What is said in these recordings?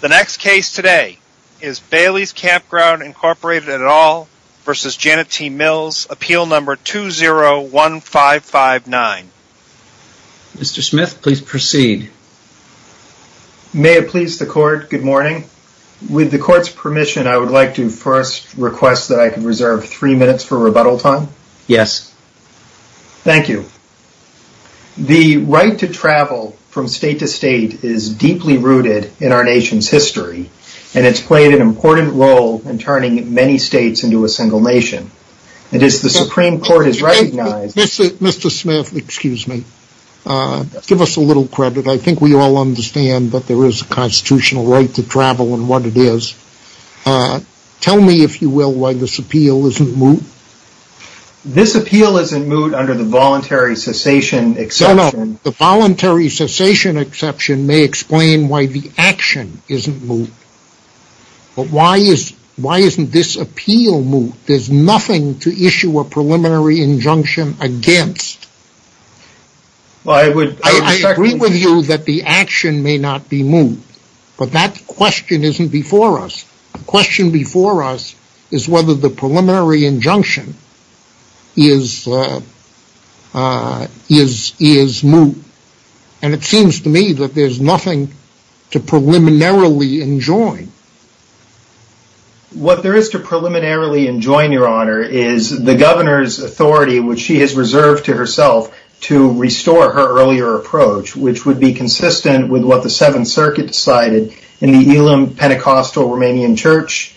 The next case today is Bailey's Campground, Inc. et al. v. Janet T. Mills, appeal number 201559. Mr. Smith, please proceed. May it please the court, good morning. With the court's permission, I would like to first request that I can reserve three minutes for rebuttal time? Yes. Thank you. The right to travel from state to state is deeply rooted in our nation's history, and it's played an important role in turning many states into a single nation. It is the Supreme Court has recognized- Mr. Smith, excuse me. Give us a little credit. I think we all understand that there is a constitutional right to travel and what it is. Tell me, if you will, why this appeal isn't moved? This appeal isn't moved under the voluntary cessation exception. No, no. The voluntary cessation exception may explain why the action isn't moved. But why isn't this appeal moved? There's nothing to issue a preliminary injunction against. Well, I would- I agree with you that the action may not be moved, but that question isn't before us. The question before us is whether the preliminary injunction is moved. And it seems to me that there's nothing to preliminarily enjoin. What there is to preliminarily enjoin, Your Honor, is the governor's authority, which she has reserved to herself to restore her earlier approach, which would be consistent with what the Seventh Circuit decided in the Elam Pentecostal Romanian Church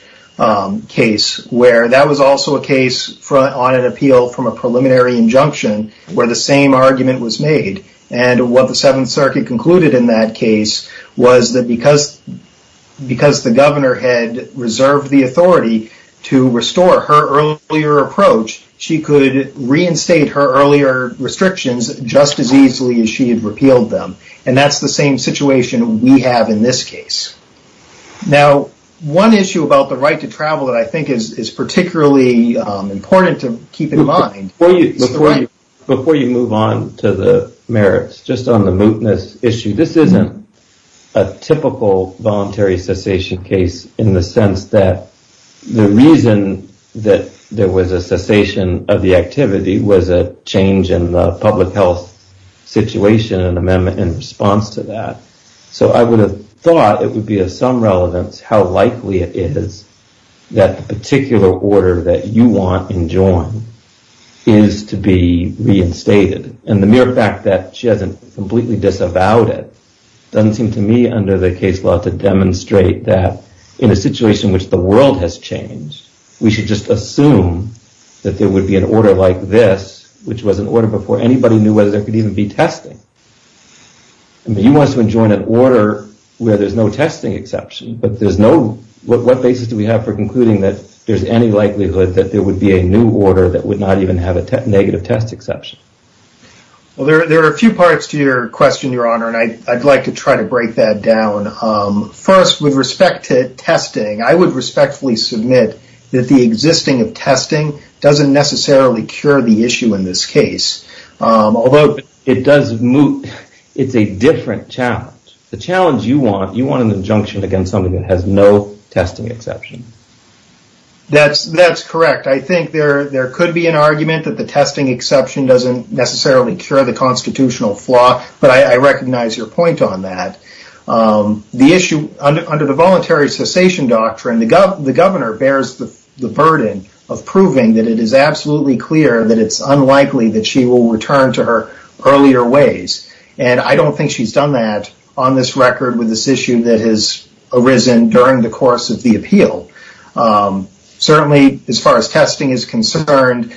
case, where that was also a case on an appeal from a preliminary injunction where the same argument was made. And what the Seventh Circuit concluded in that case was that because the governor had reserved the authority to restore her earlier approach, she could reinstate her earlier restrictions just as easily as she had repealed them. And that's the same situation we have in this case. Now, one issue about the right to travel that I think is particularly important to keep in mind- Before you move on to the merits, just on the mootness issue, this isn't a typical voluntary cessation case in the sense that the reason that there was a cessation of the public health situation and amendment in response to that. So I would have thought it would be of some relevance how likely it is that the particular order that you want enjoined is to be reinstated. And the mere fact that she hasn't completely disavowed it doesn't seem to me, under the case law, to demonstrate that in a situation in which the world has changed, we should just assume that there would be an order like this, which was an order in which anybody knew whether there could even be testing. You want to enjoin an order where there's no testing exception, but what basis do we have for concluding that there's any likelihood that there would be a new order that would not even have a negative test exception? There are a few parts to your question, Your Honor, and I'd like to try to break that down. First, with respect to testing, I would respectfully submit that the existing of testing doesn't necessarily cure the issue in this case, although it's a different challenge. The challenge you want, you want an injunction against somebody that has no testing exception. That's correct. I think there could be an argument that the testing exception doesn't necessarily cure the constitutional flaw, but I recognize your point on that. The issue under the voluntary cessation doctrine, the governor bears the burden of proving that it is absolutely clear that it's unlikely that she will return to her earlier ways. I don't think she's done that on this record with this issue that has arisen during the course of the appeal. Certainly, as far as testing is concerned,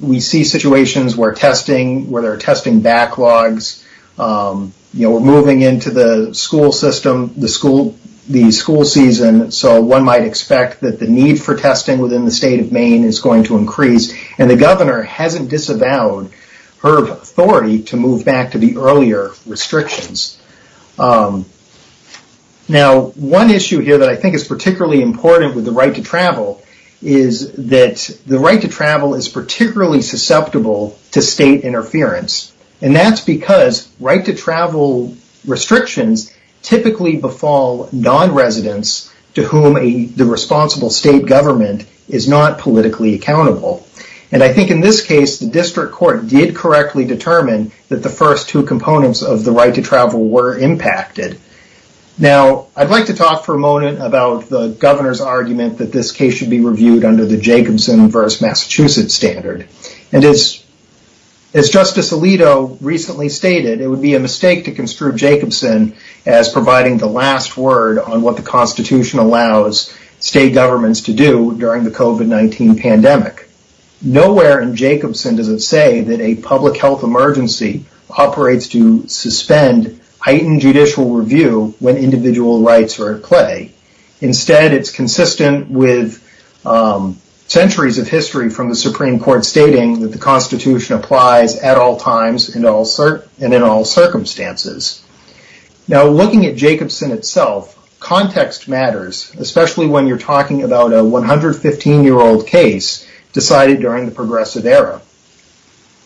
we see situations where there are testing backlogs. We're moving into the school season, so one might expect that the need for testing within the state of Maine is going to increase. The governor hasn't disavowed her authority to move back to the earlier restrictions. One issue here that I think is particularly important with the right to travel is that the right to travel is particularly susceptible to state interference. That's because right to travel restrictions typically befall non-residents to whom the responsible state government is not politically accountable. I think in this case, the district court did correctly determine that the first two components of the right to travel were impacted. I'd like to talk for a moment about the governor's argument that this case should be reviewed under the Jacobson versus Massachusetts standard. As Justice Alito recently stated, it would be a mistake to construe Jacobson as providing the last word on what the Constitution allows state governments to do during the COVID-19 pandemic. Nowhere in Jacobson does it say that a public health emergency operates to suspend heightened judicial review when individual rights are at play. Instead, it's consistent with centuries of history from the Supreme Court stating that the Constitution applies at all times and in all circumstances. Now, looking at Jacobson itself, context matters, especially when you're talking about a 115 year old case decided during the progressive era.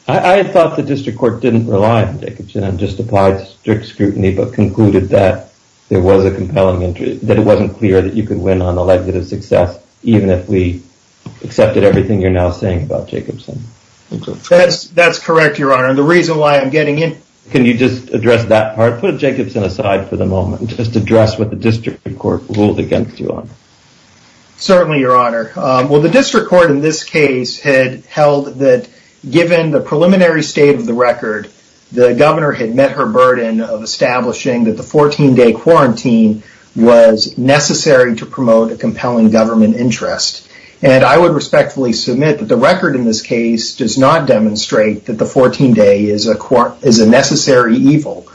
I thought the district court didn't rely on Jacobson and just applied strict scrutiny but concluded that there was a compelling interest, that it wasn't clear that you could win on the likelihood of success even if we accepted everything you're now saying about Jacobson. That's correct, Your Honor, and the reason why I'm getting into this is because... Can you just address that part? Put Jacobson aside for the moment and just address what the district court ruled against you on. Certainly, Your Honor. Well, the district court in this case had held that given the preliminary state of the record, the governor had met her burden of establishing that the 14 day quarantine was necessary to promote a compelling government interest. And I would respectfully submit that the record in this case does not demonstrate that the 14 day is a necessary evil.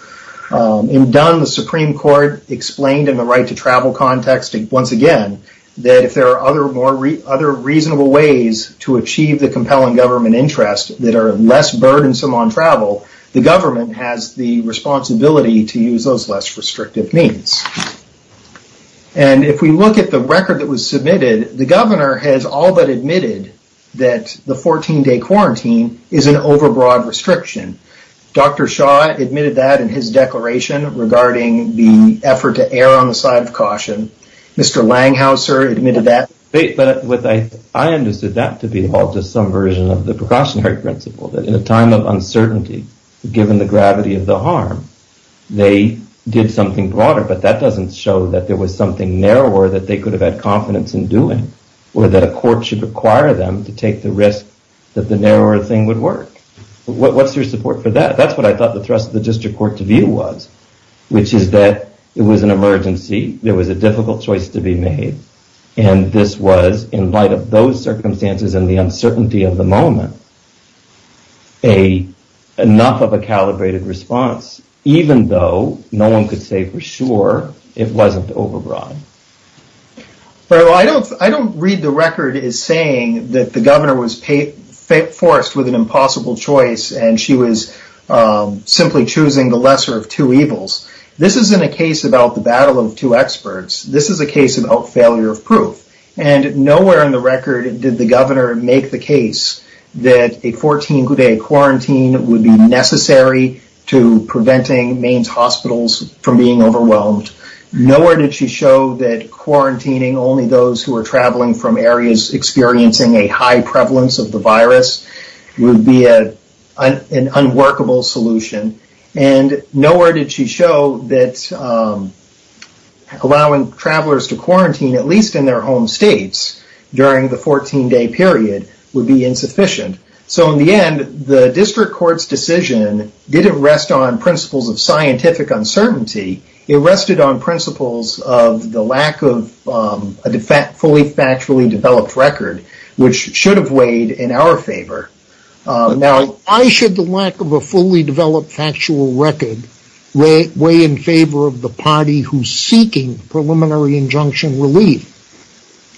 In Dunn, the Supreme Court explained in the right to travel context, once again, that if there are other reasonable ways to achieve the compelling government interest that are less burdensome on travel, the government has the responsibility to use those less restrictive means. And if we look at the record that was submitted, the governor has all but admitted that the 14 day quarantine is an overbroad restriction. Dr. Shaw admitted that in his declaration regarding the effort to err on the side of caution. Mr. Langhauser admitted that... I understood that to be all just some version of the precautionary principle, that in a given the gravity of the harm, they did something broader, but that doesn't show that there was something narrower that they could have had confidence in doing or that a court should require them to take the risk that the narrower thing would work. What's your support for that? That's what I thought the thrust of the district court to view was, which is that it was an emergency. There was a difficult choice to be made. And this was, in light of those circumstances and the uncertainty of the moment, enough of a calibrated response, even though no one could say for sure it wasn't overbroad. I don't read the record as saying that the governor was forced with an impossible choice and she was simply choosing the lesser of two evils. This isn't a case about the battle of two experts. This is a case about failure of proof. And nowhere in the record did the governor make the case that a 14-day quarantine would be necessary to preventing Maine's hospitals from being overwhelmed. Nowhere did she show that quarantining only those who are traveling from areas experiencing a high prevalence of the virus would be an unworkable solution. And nowhere did she show that allowing travelers to quarantine at least in their home states during the 14-day period would be insufficient. So in the end, the district court's decision didn't rest on principles of scientific uncertainty. It rested on principles of the lack of a fully factually developed record, which should have weighed in our favor. Why should the lack of a fully developed factual record weigh in favor of the party who's seeking preliminary injunction relief?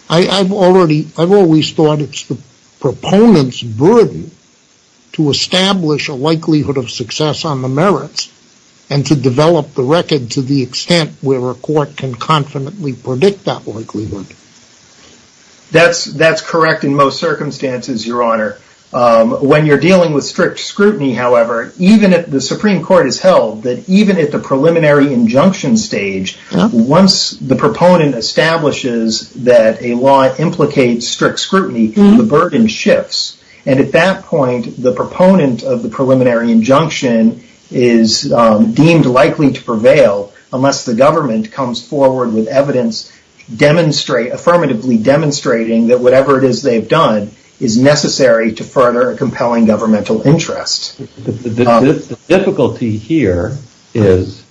I've always thought it's the proponent's burden to establish a likelihood of success on the merits and to develop the record to the extent where it's likely to prevail. That's correct in most circumstances, Your Honor. When you're dealing with strict scrutiny, however, even if the Supreme Court has held that even at the preliminary injunction stage, once the proponent establishes that a law implicates strict scrutiny, the burden shifts. And at that point, the proponent of the preliminary injunction is deemed likely to prevail unless the government comes forward with evidence affirmatively demonstrating that whatever it is they've done is necessary to further a compelling governmental interest. The difficulty here is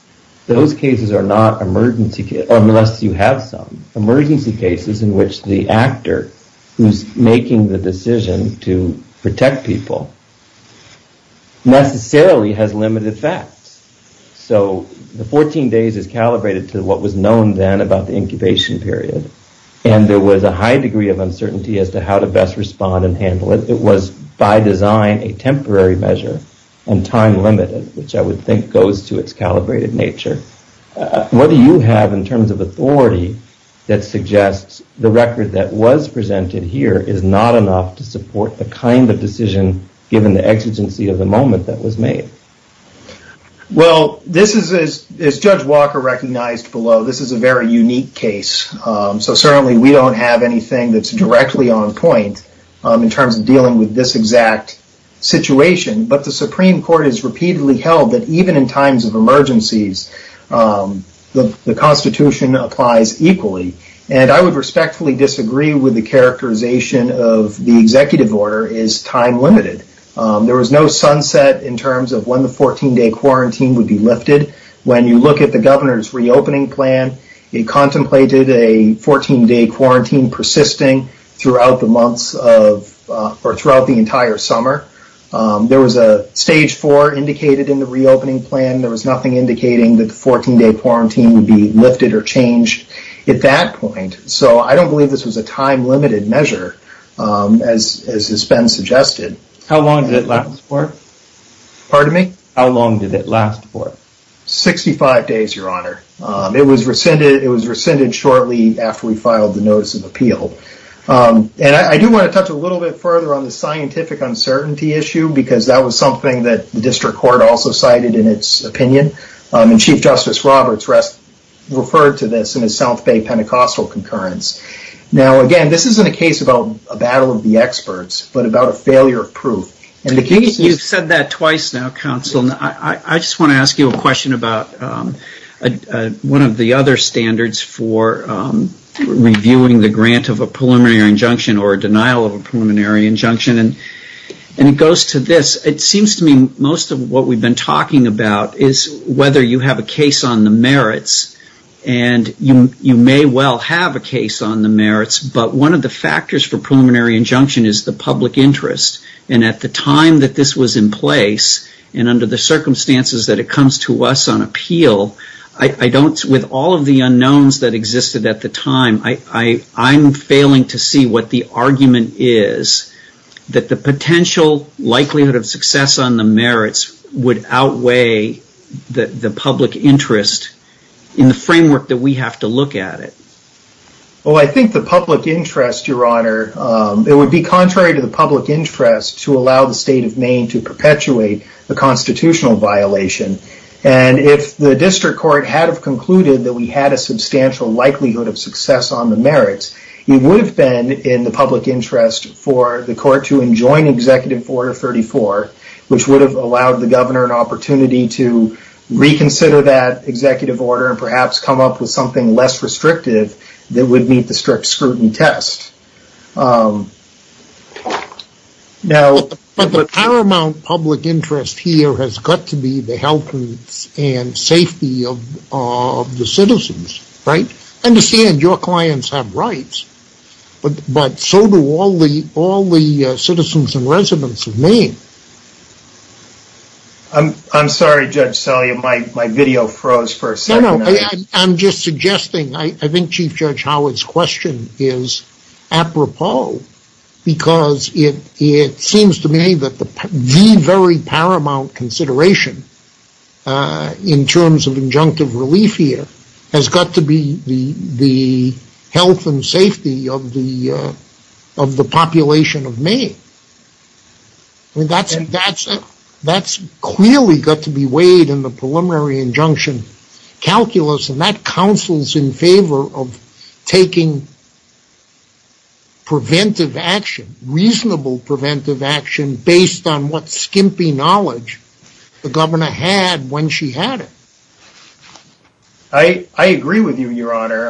those cases are not emergency cases, unless you have some. Emergency cases in which the actor who's making the decision to protect people necessarily has limited facts. So the 14 days is calibrated to what was known then about the incubation period, and there was a high degree of uncertainty as to how to best respond and handle it. It was by design a temporary measure and time limited, which I would think goes to its calibrated nature. What do you have in terms of authority that suggests the record that was presented here is not enough to support the kind of decision given the exigency of the moment that was made? Well, this is, as Judge Walker recognized below, this is a very unique case. So certainly we don't have anything that's directly on point in terms of dealing with this exact situation, but the Supreme Court has repeatedly held that even in times of emergencies, the Constitution applies equally. And I would respectfully disagree with the characterization of the executive order is time limited. There was no sunset in terms of when the 14 day quarantine would be lifted. When you look at the governor's reopening plan, it contemplated a 14 day quarantine persisting throughout the months of, or throughout the entire summer. There was a stage four indicated in the reopening plan. There was nothing indicating that the 14 day quarantine would be lifted or changed at that point. So I don't believe this was a time limited measure as has been suggested. How long did it last for? Pardon me? How long did it last for? 65 days, your honor. It was rescinded shortly after we filed the notice of appeal. And I do want to touch a little bit further on the scientific uncertainty issue because that was something that the district court also cited in its opinion. And Chief Justice Roberts referred to this in his South Bay Pentecostal concurrence. Now, again, this isn't a case about a battle of the experts, but about a failure of proof. You've said that twice now, counsel. I just want to ask you a question about one of the other standards for reviewing the grant of a preliminary injunction or denial of a preliminary injunction. And it goes to this. It seems to me most of what we've been talking about is whether you have a case on the merits. And you may well have a case on the merits, but one of the factors for preliminary injunction is the public interest. And at the time that this was in place and under the circumstances that it comes to us on appeal, with all of the unknowns that existed at the time, I'm failing to see what the argument is that the public interest in the framework that we have to look at it. Well, I think the public interest, your honor, it would be contrary to the public interest to allow the state of Maine to perpetuate the constitutional violation. And if the district court had concluded that we had a substantial likelihood of success on the merits, it would have been in the public interest for the court to enjoin Executive Order 34, which would have allowed the governor an opportunity to reconsider that Executive Order and perhaps come up with something less restrictive that would meet the strict scrutiny test. But the paramount public interest here has got to be the health and safety of the citizens, right? I understand your clients have rights, but so do all the citizens and residents of I'm sorry, Judge Salia, my video froze for a second. I'm just suggesting, I think Chief Judge Howard's question is apropos, because it seems to me that the very paramount consideration in terms of injunctive relief here has got to be the That's clearly got to be weighed in the preliminary injunction calculus, and that counsels in favor of taking preventive action, reasonable preventive action, based on what skimpy knowledge the governor had when she had it. I agree with you, your honor,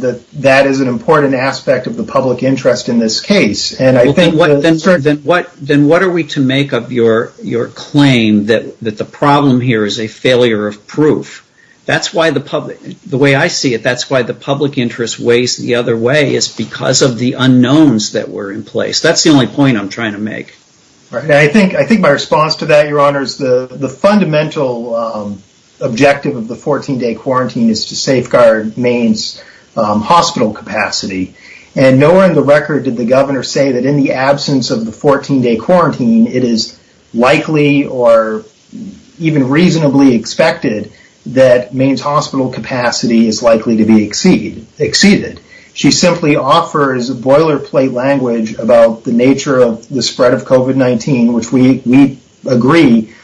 that that is an important aspect of the public interest in this case. Well, then what are we to make of your claim that the problem here is a failure of proof? That's why the public, the way I see it, that's why the public interest weighs the other way is because of the unknowns that were in place. That's the only point I'm trying to make. I think my response to that, your honor, is the fundamental objective of the 14-day quarantine is to safeguard Maine's hospital capacity, and nowhere in the record did the governor say that in the absence of the 14-day quarantine, it is likely or even reasonably expected that Maine's hospital capacity is likely to be exceeded. She simply offers a boilerplate language about the nature of the spread of COVID-19, which we agree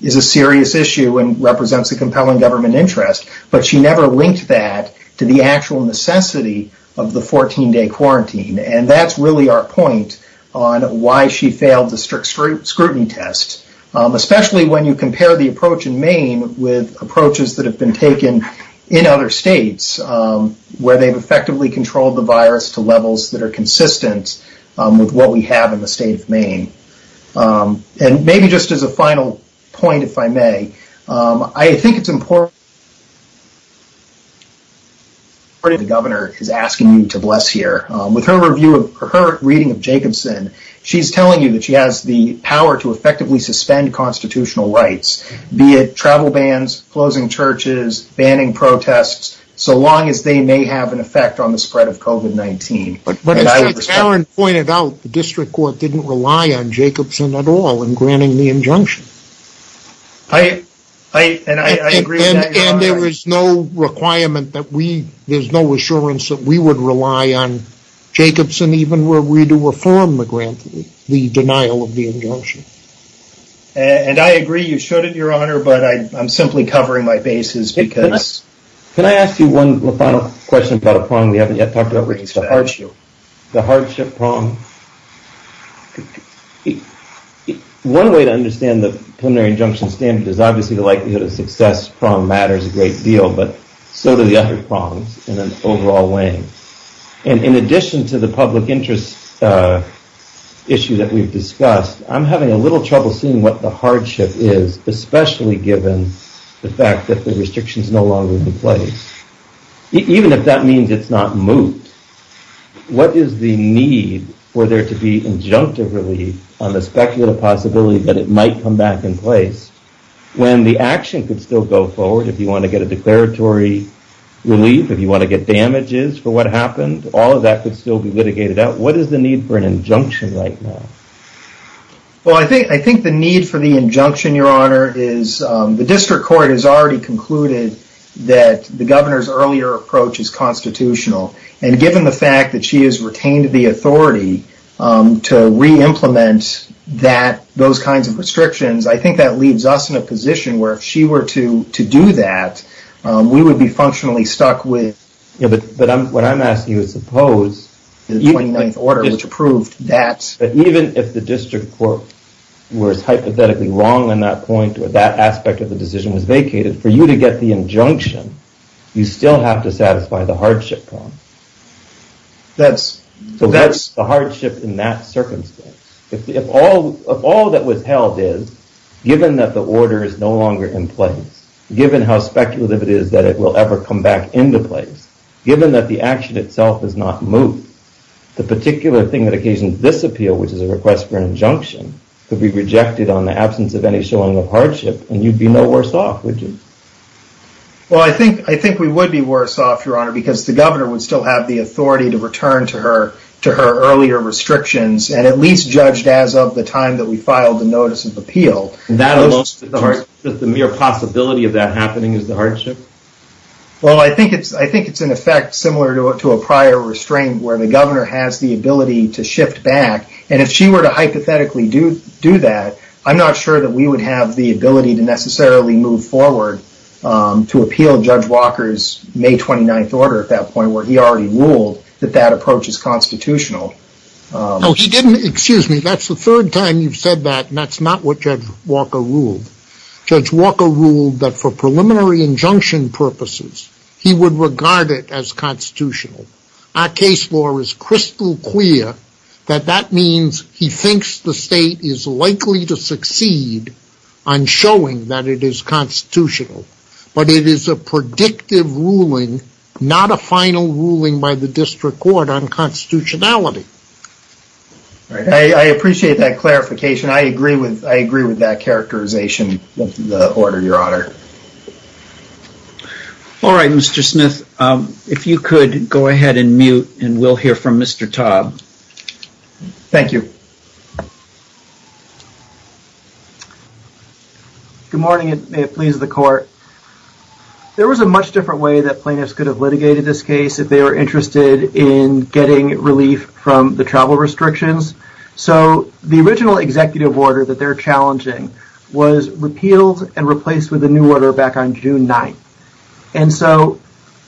is a serious issue and represents a compelling government interest, but she never linked that to the actual necessity of the 14-day quarantine, and that's really our point on why she failed the strict scrutiny test, especially when you compare the approach in Maine with approaches that have been taken in other states where they've effectively controlled the virus to levels that are consistent with what we have in the state of Maine. Maybe just as a final point, if I may, I think it's important that the governor is asking you to bless here. With her reading of Jacobson, she's telling you that she has the power to effectively suspend constitutional rights, be it travel bans, closing churches, banning protests, so long as they may have an effect on the spread of COVID-19. But as Mr. Tarrant pointed out, the district court didn't rely on Jacobson at all in granting the injunction. And I agree with that, Your Honor. And there was no requirement that we, there's no assurance that we would rely on Jacobson even were we to reform the denial of the injunction. And I agree you shouldn't, Your Honor, but I'm simply covering my bases because... Can I ask you one final question about a prong we haven't yet talked about? Which is the hardship prong? One way to understand the preliminary injunction standard is obviously the likelihood of success prong matters a great deal, but so do the other prongs in an overall way. In addition to the public interest issue that we've discussed, I'm having a little trouble seeing what the hardship is, especially given the fact that the restriction is no longer in place, even if that means it's not moved. What is the need for there to be injunctive relief on the speculative possibility that it might come back in place when the action could still go forward if you want to get a declaratory relief, if you want to get damages for what happened, all of that could still be litigated out. What is the need for an injunction right now? Well, I think the need for the injunction, Your Honor, is the district court has already concluded that the governor's earlier approach is constitutional. Given the fact that she has retained the authority to re-implement those kinds of restrictions, I think that leaves us in a position where if she were to do that, we would be functionally stuck with... Yeah, but what I'm asking you is suppose the 29th order, which approved that... Even if the district court was hypothetically wrong in that point, or that aspect of the case, for you to get the injunction, you still have to satisfy the hardship problem. That's... So that's the hardship in that circumstance. If all that was held is, given that the order is no longer in place, given how speculative it is that it will ever come back into place, given that the action itself is not moved, the particular thing that occasions this appeal, which is a request for an injunction, could be rejected on the absence of any showing of hardship, and you'd be no worse off, would you? Well, I think we would be worse off, Your Honor, because the governor would still have the authority to return to her earlier restrictions, and at least judged as of the time that we filed the notice of appeal. That alone is just the mere possibility of that happening, is the hardship? Well, I think it's in effect similar to a prior restraint, where the governor has the ability to shift back, and if she were to hypothetically do that, I'm not sure that we would have the ability to necessarily move forward to appeal Judge Walker's May 29th order at that point, where he already ruled that that approach is constitutional. No, he didn't, excuse me, that's the third time you've said that, and that's not what Judge Walker ruled. Judge Walker ruled that for preliminary injunction purposes, he would regard it as constitutional. Our case law is crystal clear that that means he thinks the state is likely to succeed on showing that it is constitutional, but it is a predictive ruling, not a final ruling by the district court on constitutionality. I appreciate that clarification, I agree with that characterization of the order, Your Honor. All right, Mr. Smith, if you could go ahead and mute, and we'll hear from Mr. Taub. Thank you. Good morning, and may it please the court. There was a much different way that plaintiffs could have litigated this case if they were interested in getting relief from the travel restrictions, so the original executive order that they're challenging was repealed and replaced with a new order back on June 9th, and so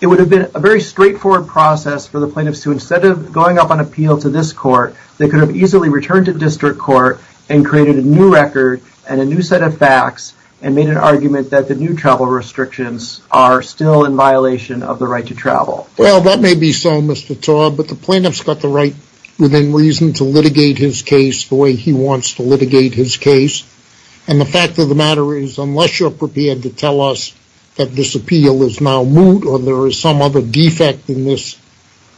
it would have been a very straightforward process for the plaintiffs to, instead of going up on appeal to this court, they could have easily returned to district court and created a new record and a new set of facts and made an argument that the new travel restrictions are still in violation of the right to travel. Well, that may be so, Mr. Taub, but the plaintiff's got the right, within reason, to litigate his case the way he wants to litigate his case, and the fact of the matter is, unless you're prepared to tell us that this appeal is now moot or there is some other defect in this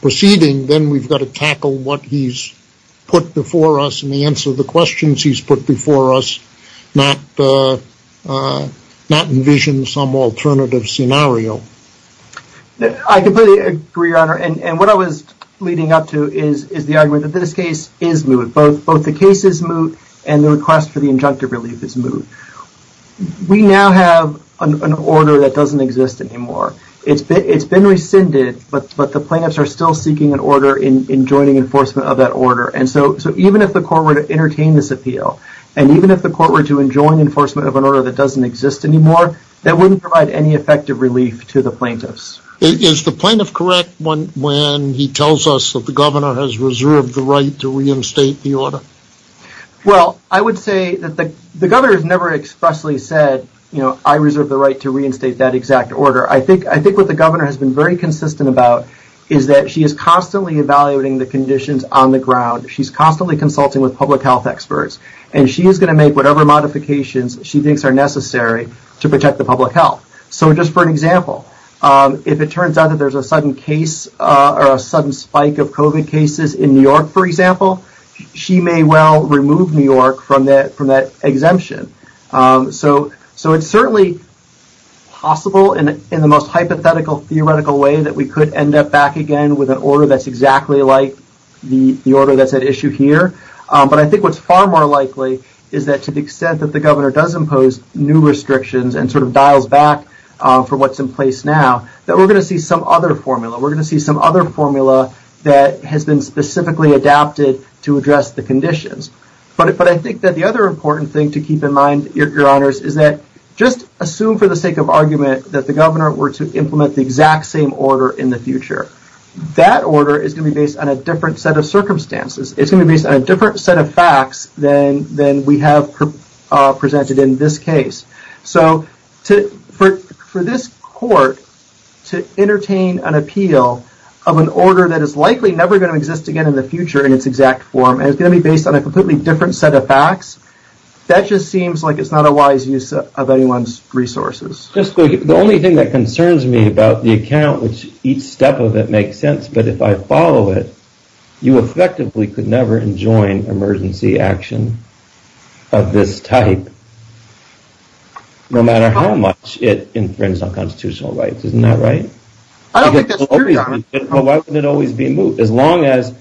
proceeding, then we've got to tackle what he's put before us and answer the questions he's put before us, not envision some alternative scenario. I completely agree, Your Honor, and what I was leading up to is the argument that this both the case is moot and the request for the injunctive relief is moot. We now have an order that doesn't exist anymore. It's been rescinded, but the plaintiffs are still seeking an order in joining enforcement of that order, and so even if the court were to entertain this appeal, and even if the court were to enjoin enforcement of an order that doesn't exist anymore, that wouldn't provide any effective relief to the plaintiffs. Is the plaintiff correct when he tells us that the governor has reserved the right to reinstate the order? Well, I would say that the governor has never expressly said, you know, I reserve the right to reinstate that exact order. I think what the governor has been very consistent about is that she is constantly evaluating the conditions on the ground. She's constantly consulting with public health experts, and she is going to make whatever modifications she thinks are necessary to protect the public health. So just for an example, if it turns out that there's a sudden case or a sudden spike of COVID cases in New York, for example, she may well remove New York from that exemption. So it's certainly possible in the most hypothetical, theoretical way that we could end up back again with an order that's exactly like the order that's at issue here, but I think what's far more likely is that to the extent that the governor does impose new restrictions and sort of dials back for what's in place now, that we're going to see some other formula. We're going to see some other formula that has been specifically adapted to address the conditions. But I think that the other important thing to keep in mind, your honors, is that just assume for the sake of argument that the governor were to implement the exact same order in the future. That order is going to be based on a different set of circumstances. It's going to be based on a different set of facts than we have presented in this case. So for this court to entertain an appeal of an order that is likely never going to exist again in the future in its exact form, and it's going to be based on a completely different set of facts, that just seems like it's not a wise use of anyone's resources. Just the only thing that concerns me about the account, which each step of it makes sense, but if I follow it, you effectively could never enjoin emergency action of this type, no matter how much it infringes on constitutional rights. Isn't that right? I don't think that's true, Your Honor. Well, why wouldn't it always be moot? As long as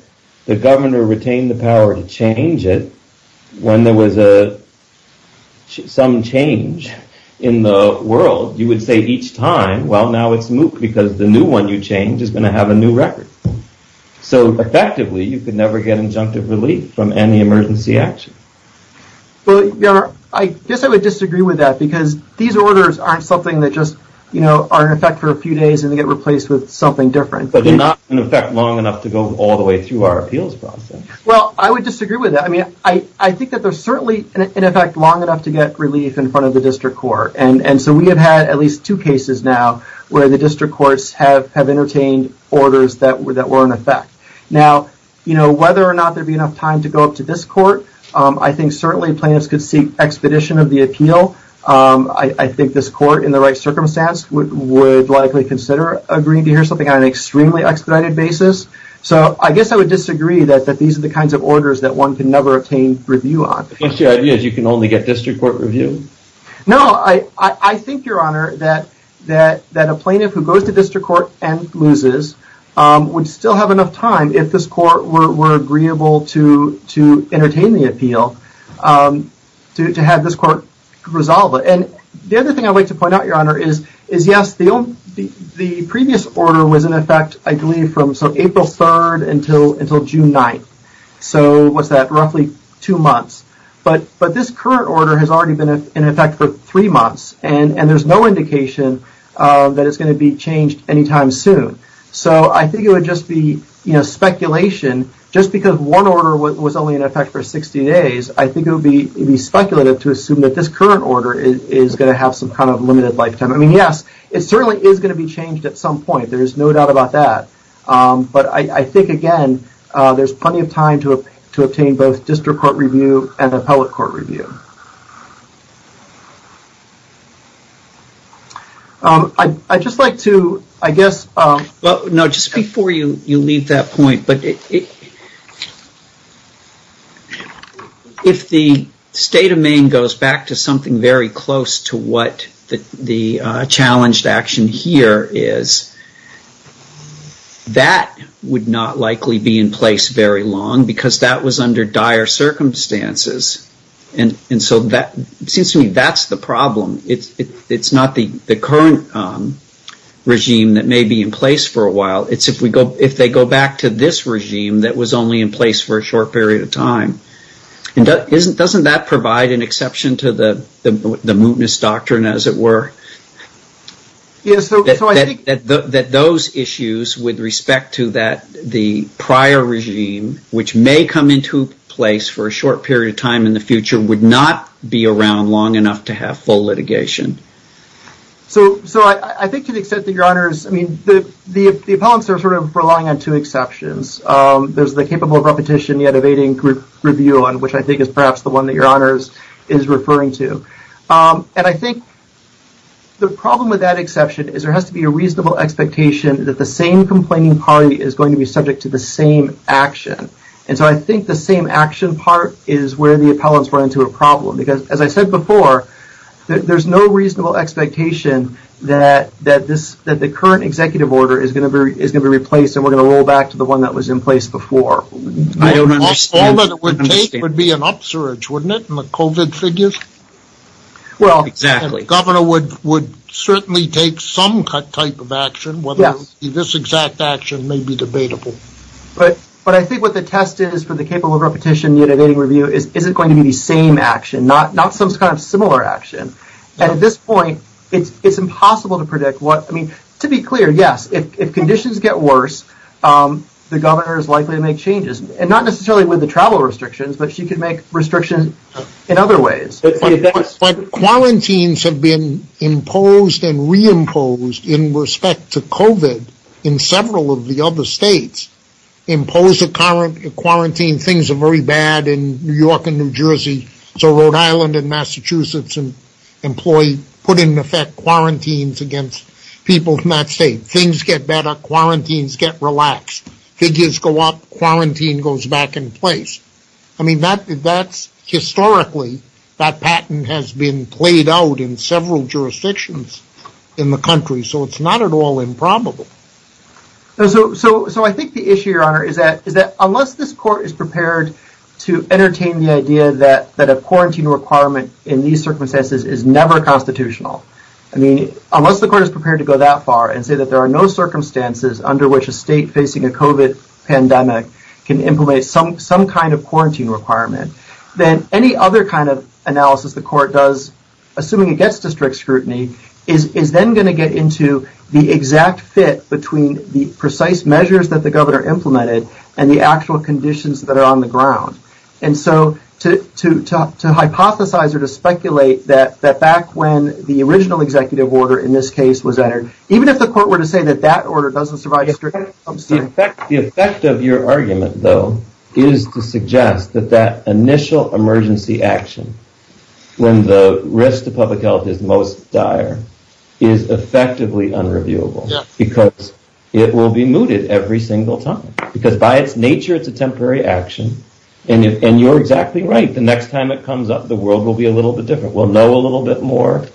the governor retained the power to change it, when there was some change in the world, you would say each time, well, now it's moot because the new one you change is going to have a new record. So effectively, you could never get injunctive relief from any emergency action. Well, Your Honor, I guess I would disagree with that because these orders aren't something that just are in effect for a few days and they get replaced with something different. But they're not in effect long enough to go all the way through our appeals process. Well, I would disagree with that. I mean, I think that they're certainly in effect long enough to get relief in front of the district court. And so we have had at least two cases now where the district courts have entertained orders that were in effect. Now, whether or not there'd be enough time to go up to this court, I think certainly plaintiffs could seek expedition of the appeal. I think this court, in the right circumstance, would likely consider agreeing to hear something on an extremely expedited basis. So I guess I would disagree that these are the kinds of orders that one can never obtain review on. So your idea is you can only get district court review? No, I think, Your Honor, that a plaintiff who goes to district court and loses would still have enough time if this court were agreeable to entertain the appeal, to have this court resolve it. And the other thing I'd like to point out, Your Honor, is yes, the previous order was in effect, I believe, from April 3rd until June 9th. So what's that? Roughly two months. But this current order has already been in effect for three months. And there's no indication that it's going to be changed anytime soon. So I think it would just be speculation. Just because one order was only in effect for 60 days, I think it would be speculative to assume that this current order is going to have some kind of limited lifetime. I mean, yes, it certainly is going to be changed at some point. There's no doubt about that. But I think, again, there's plenty of time to obtain both district court review and appellate court review. I'd just like to, I guess... Well, no, just before you leave that point, if the state of Maine goes back to something very close to what the challenged action here is, that would not likely be in place very long, because that was under dire circumstances. And so that seems to me that's the problem. It's not the current regime that may be in place for a while. It's if they go back to this regime that was only in place for a short period of time. And doesn't that provide an exception to the mootness doctrine, as it were, that those issues with respect to the prior regime, which may come into place for a short period of time in the future, would not be around long enough to have full litigation? So I think to the extent that your honors, I mean, the appellants are sort of relying on two exceptions. There's the capable of repetition yet evading group review on, which I think is perhaps the one that your honors is referring to. And I think the problem with that exception is there has to be a reasonable expectation that the same complaining party is going to be subject to the same action. And so I think the same action part is where the appellants run into a problem. Because as I said before, there's no reasonable expectation that the current executive order is going to be replaced and we're going to roll back to the one that was in place before. I don't understand. All that it would take would be an upsurge, wouldn't it, in the COVID figures? Well, exactly. And the governor would certainly take some type of action, whether this exact action may be debatable. But I think what the test is for the capable of repetition yet evading review is, is it going to be the same action, not some kind of similar action? At this point, it's impossible to predict what, I mean, to be clear, yes, if conditions get worse, the governor is likely to make changes and not necessarily with the travel restrictions, but she could make restrictions in other ways. But quarantines have been imposed and reimposed in respect to COVID in several of the other states impose a current quarantine. Things are very bad in New York and New Jersey. So Rhode Island and Massachusetts and employee put in effect quarantines against people from that state. Things get better. Quarantines get relaxed. Figures go up. Quarantine goes back in place. I mean, that's historically that patent has been played out in several jurisdictions in the country. So it's not at all improbable. So I think the issue, Your Honor, is that unless this court is prepared to entertain the idea that a quarantine requirement in these circumstances is never constitutional, I mean, unless the court is prepared to go that far and say that there are no circumstances under which a state facing a COVID pandemic can implement some kind of quarantine requirement, then any other kind of analysis the court does, assuming it gets to strict scrutiny, is then going to get into the exact fit between the precise measures that the governor implemented and the actual conditions that are on the ground. And so to hypothesize or to speculate that back when the original executive order in this case was entered, even if the court were to say that that order doesn't survive strict scrutiny, I'm sorry. The effect of your argument, though, is to suggest that that initial emergency action, when the risk to public health is most dire, is effectively unreviewable. Because it will be mooted every single time. Because by its nature, it's a temporary action. And you're exactly right. The next time it comes up, the world will be a little bit different. We'll know a little bit more.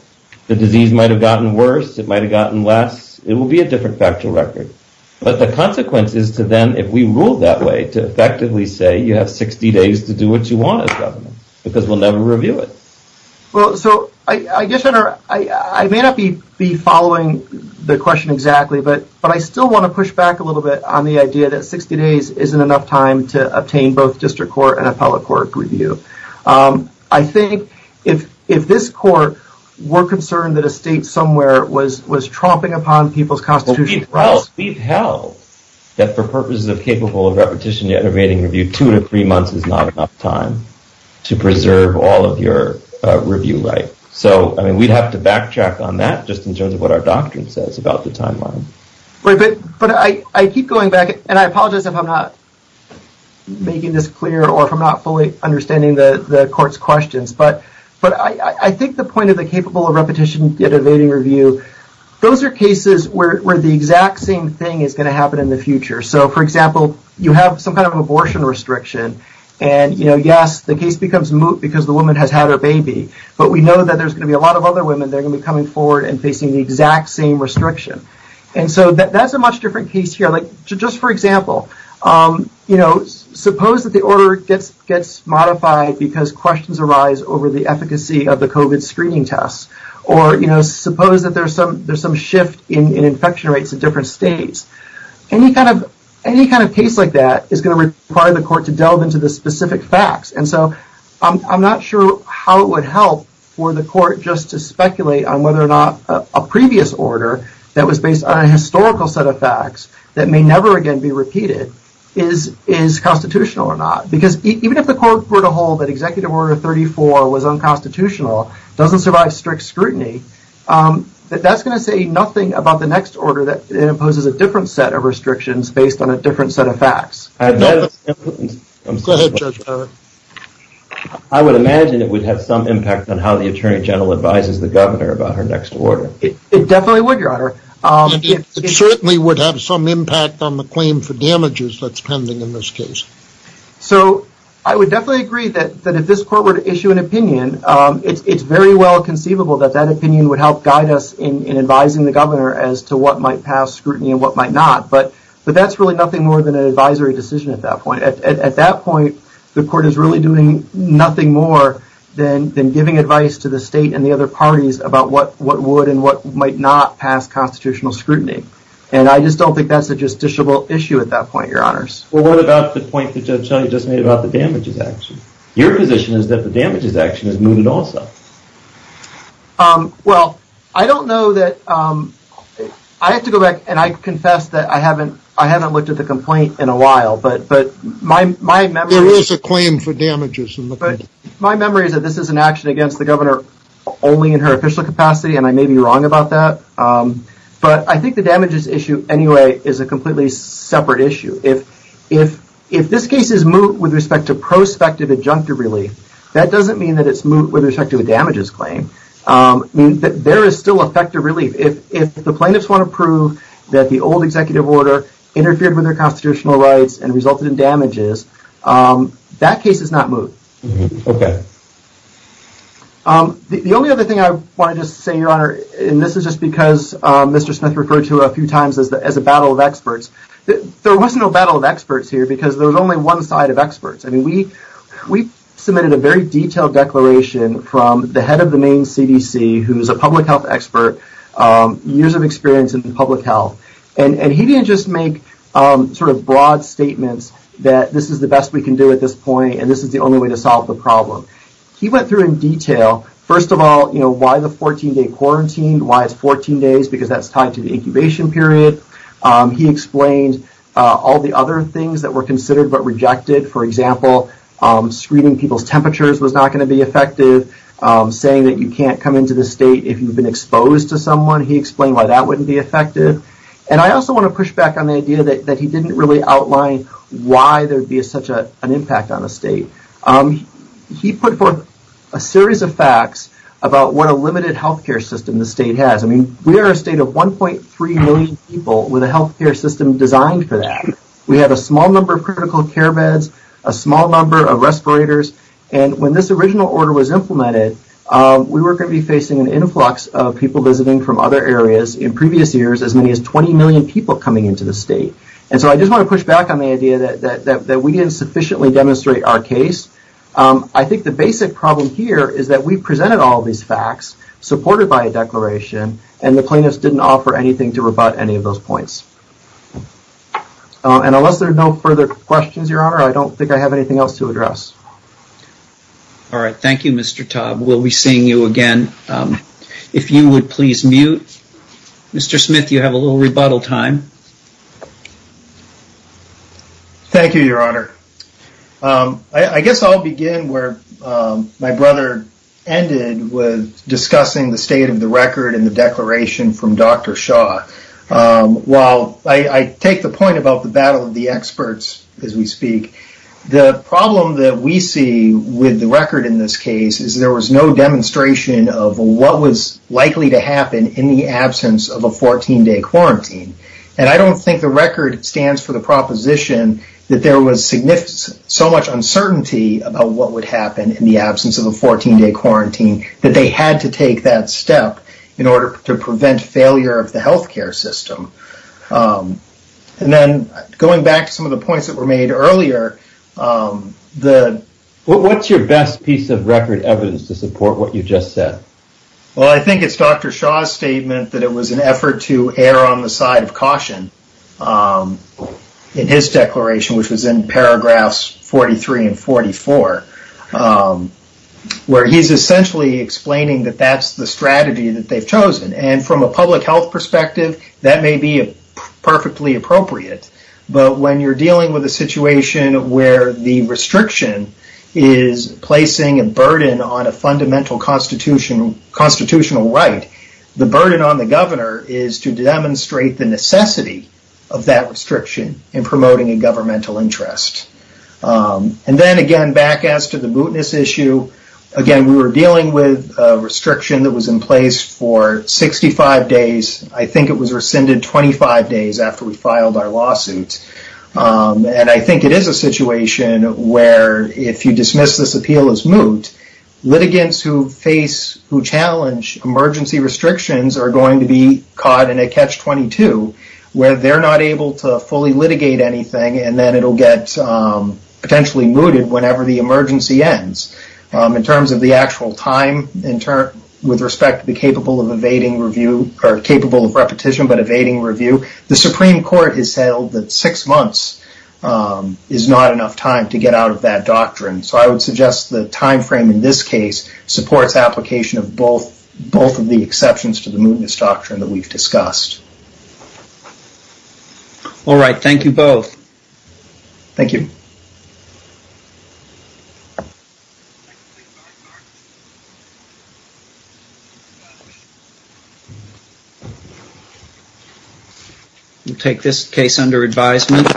The disease might have gotten worse. It might have gotten less. It will be a different factual record. But the consequence is to them, if we rule that way, to effectively say you have 60 days to do what you want as governor, because we'll never review it. Well, so I guess, Your Honor, I may not be following the question exactly, but I still want to push back a little bit on the idea that 60 days isn't enough time to obtain both district court and appellate court review. I think if this court were concerned that a state somewhere was tromping upon people's constitutional rights. We've held that for purposes of capable of repetition, yet evading review, two to three months is not enough time to preserve all of your review right. So, I mean, we'd have to backtrack on that just in terms of what our doctrine says about the timeline. But I keep going back, and I apologize if I'm not making this clear or if I'm not fully understanding the court's questions. But I think the point of the capable of repetition, yet evading review, those are cases where the exact same thing is going to happen in the future. So, for example, you have some kind of abortion restriction, and yes, the case becomes moot because the woman has had her baby. But we know that there's going to be a lot of other women that are going to be coming forward and facing the exact same restriction. And so, that's a much different case here. Like, just for example, you know, suppose that the order gets modified because questions arise over the efficacy of the COVID screening tests. Or, you know, suppose that there's some shift in infection rates in different states. Any kind of case like that is going to require the court to delve into the specific facts. And so, I'm not sure how it would help for the court just to speculate on whether or not a previous order that was based on a historical set of facts that may never again be repeated is constitutional or not. Because even if the court were to hold that Executive Order 34 was unconstitutional, doesn't survive strict scrutiny, that's going to say nothing about the next order that imposes a different set of restrictions based on a different set of facts. Go ahead, Judge. I would imagine it would have some impact on how the Attorney General advises the governor about her next order. It definitely would, Your Honor. It certainly would have some impact on the claim for damages that's pending in this case. So, I would definitely agree that if this court were to issue an opinion, it's very well conceivable that that opinion would help guide us in advising the governor as to what might pass scrutiny and what might not. But that's really nothing more than an advisory decision at that point. At that point, the court is really doing nothing more than giving advice to the state and the other parties about what would and what might not pass constitutional scrutiny. And I just don't think that's a justiciable issue at that point, Your Honors. Well, what about the point that Judge Shelley just made about the damages action? Your position is that the damages action is moving also. Well, I don't know that... I have to go back and I confess that I haven't looked at the complaint in a while, but my memory... There is a claim for damages in the case. My memory is that this is an action against the governor only in her official capacity, and I may be wrong about that. But I think the damages issue anyway is a completely separate issue. If this case is moot with respect to prospective adjunctive relief, that doesn't mean that it's moot with respect to a damages claim. There is still effective relief. If the plaintiffs want to prove that the old executive order interfered with their constitutional rights and resulted in damages, that case is not moot. Okay. The only other thing I wanted to say, Your Honor, and this is just because Mr. Smith referred to a few times as a battle of experts, there was no battle of experts here because there was only one side of experts. I mean, we submitted a very detailed declaration from the head of the main CDC, who's a public health expert, years of experience in public health, and he didn't just make sort of broad statements that this is the best we can do at this point, and this is the only way to He went through in detail, first of all, why the 14-day quarantine, why it's 14 days, because that's tied to the incubation period. He explained all the other things that were considered but rejected. For example, screening people's temperatures was not going to be effective. Saying that you can't come into the state if you've been exposed to someone, he explained why that wouldn't be effective. And I also want to push back on the idea that he didn't really outline why there'd be such an impact on the state. He put forth a series of facts about what a limited healthcare system the state has. I mean, we are a state of 1.3 million people with a healthcare system designed for that. We have a small number of critical care beds, a small number of respirators, and when this original order was implemented, we were going to be facing an influx of people visiting from other areas in previous years, as many as 20 million people coming into the state. And so I just want to push back on the idea that we didn't sufficiently demonstrate our case. I think the basic problem here is that we presented all these facts, supported by a declaration, and the plaintiffs didn't offer anything to rebut any of those points. And unless there are no further questions, Your Honor, I don't think I have anything else to address. All right. Thank you, Mr. Tubbs. We'll be seeing you again. If you would please mute. Mr. Smith, you have a little rebuttal time. Thank you, Your Honor. I guess I'll begin where my brother ended with discussing the state of the record and the declaration from Dr. Shah. While I take the point about the battle of the experts as we speak, the problem that we see with the record in this case is there was no demonstration of what was likely to happen in the absence of a 14-day quarantine. And I don't think the record stands for the proposition that there was so much uncertainty about what would happen in the absence of a 14-day quarantine that they had to take that step in order to prevent failure of the health care system. And then going back to some of the points that were made earlier, the... What's your best piece of record evidence to support what you just said? Well, I think it's Dr. Shah's statement that it was an effort to err on the side of caution in his declaration, which was in paragraphs 43 and 44, where he's essentially explaining that that's the strategy that they've chosen. And from a public health perspective, that may be perfectly appropriate. But when you're dealing with a situation where the restriction is placing a burden on a fundamental constitutional right, the burden on the governor is to demonstrate the necessity of that restriction in promoting a governmental interest. And then again, back as to the mootness issue, again, we were dealing with a restriction that was in place for 65 days. I think it was rescinded 25 days after we filed our lawsuit. And I think it is a situation where if you dismiss this appeal as moot, litigants who face, who challenge emergency restrictions are going to be caught in a catch-22, where they're not able to fully litigate anything, and then it'll get potentially mooted whenever the emergency ends. In terms of the actual time, with respect to the capable of evading review, or capable of repetition but evading review, the Supreme Court has held that six months is not enough time to get out of that doctrine. So I would suggest the time frame in this case supports application of both of the exceptions to the mootness doctrine that we've discussed. All right. Thank you both. Thank you. We'll take this case under advisement.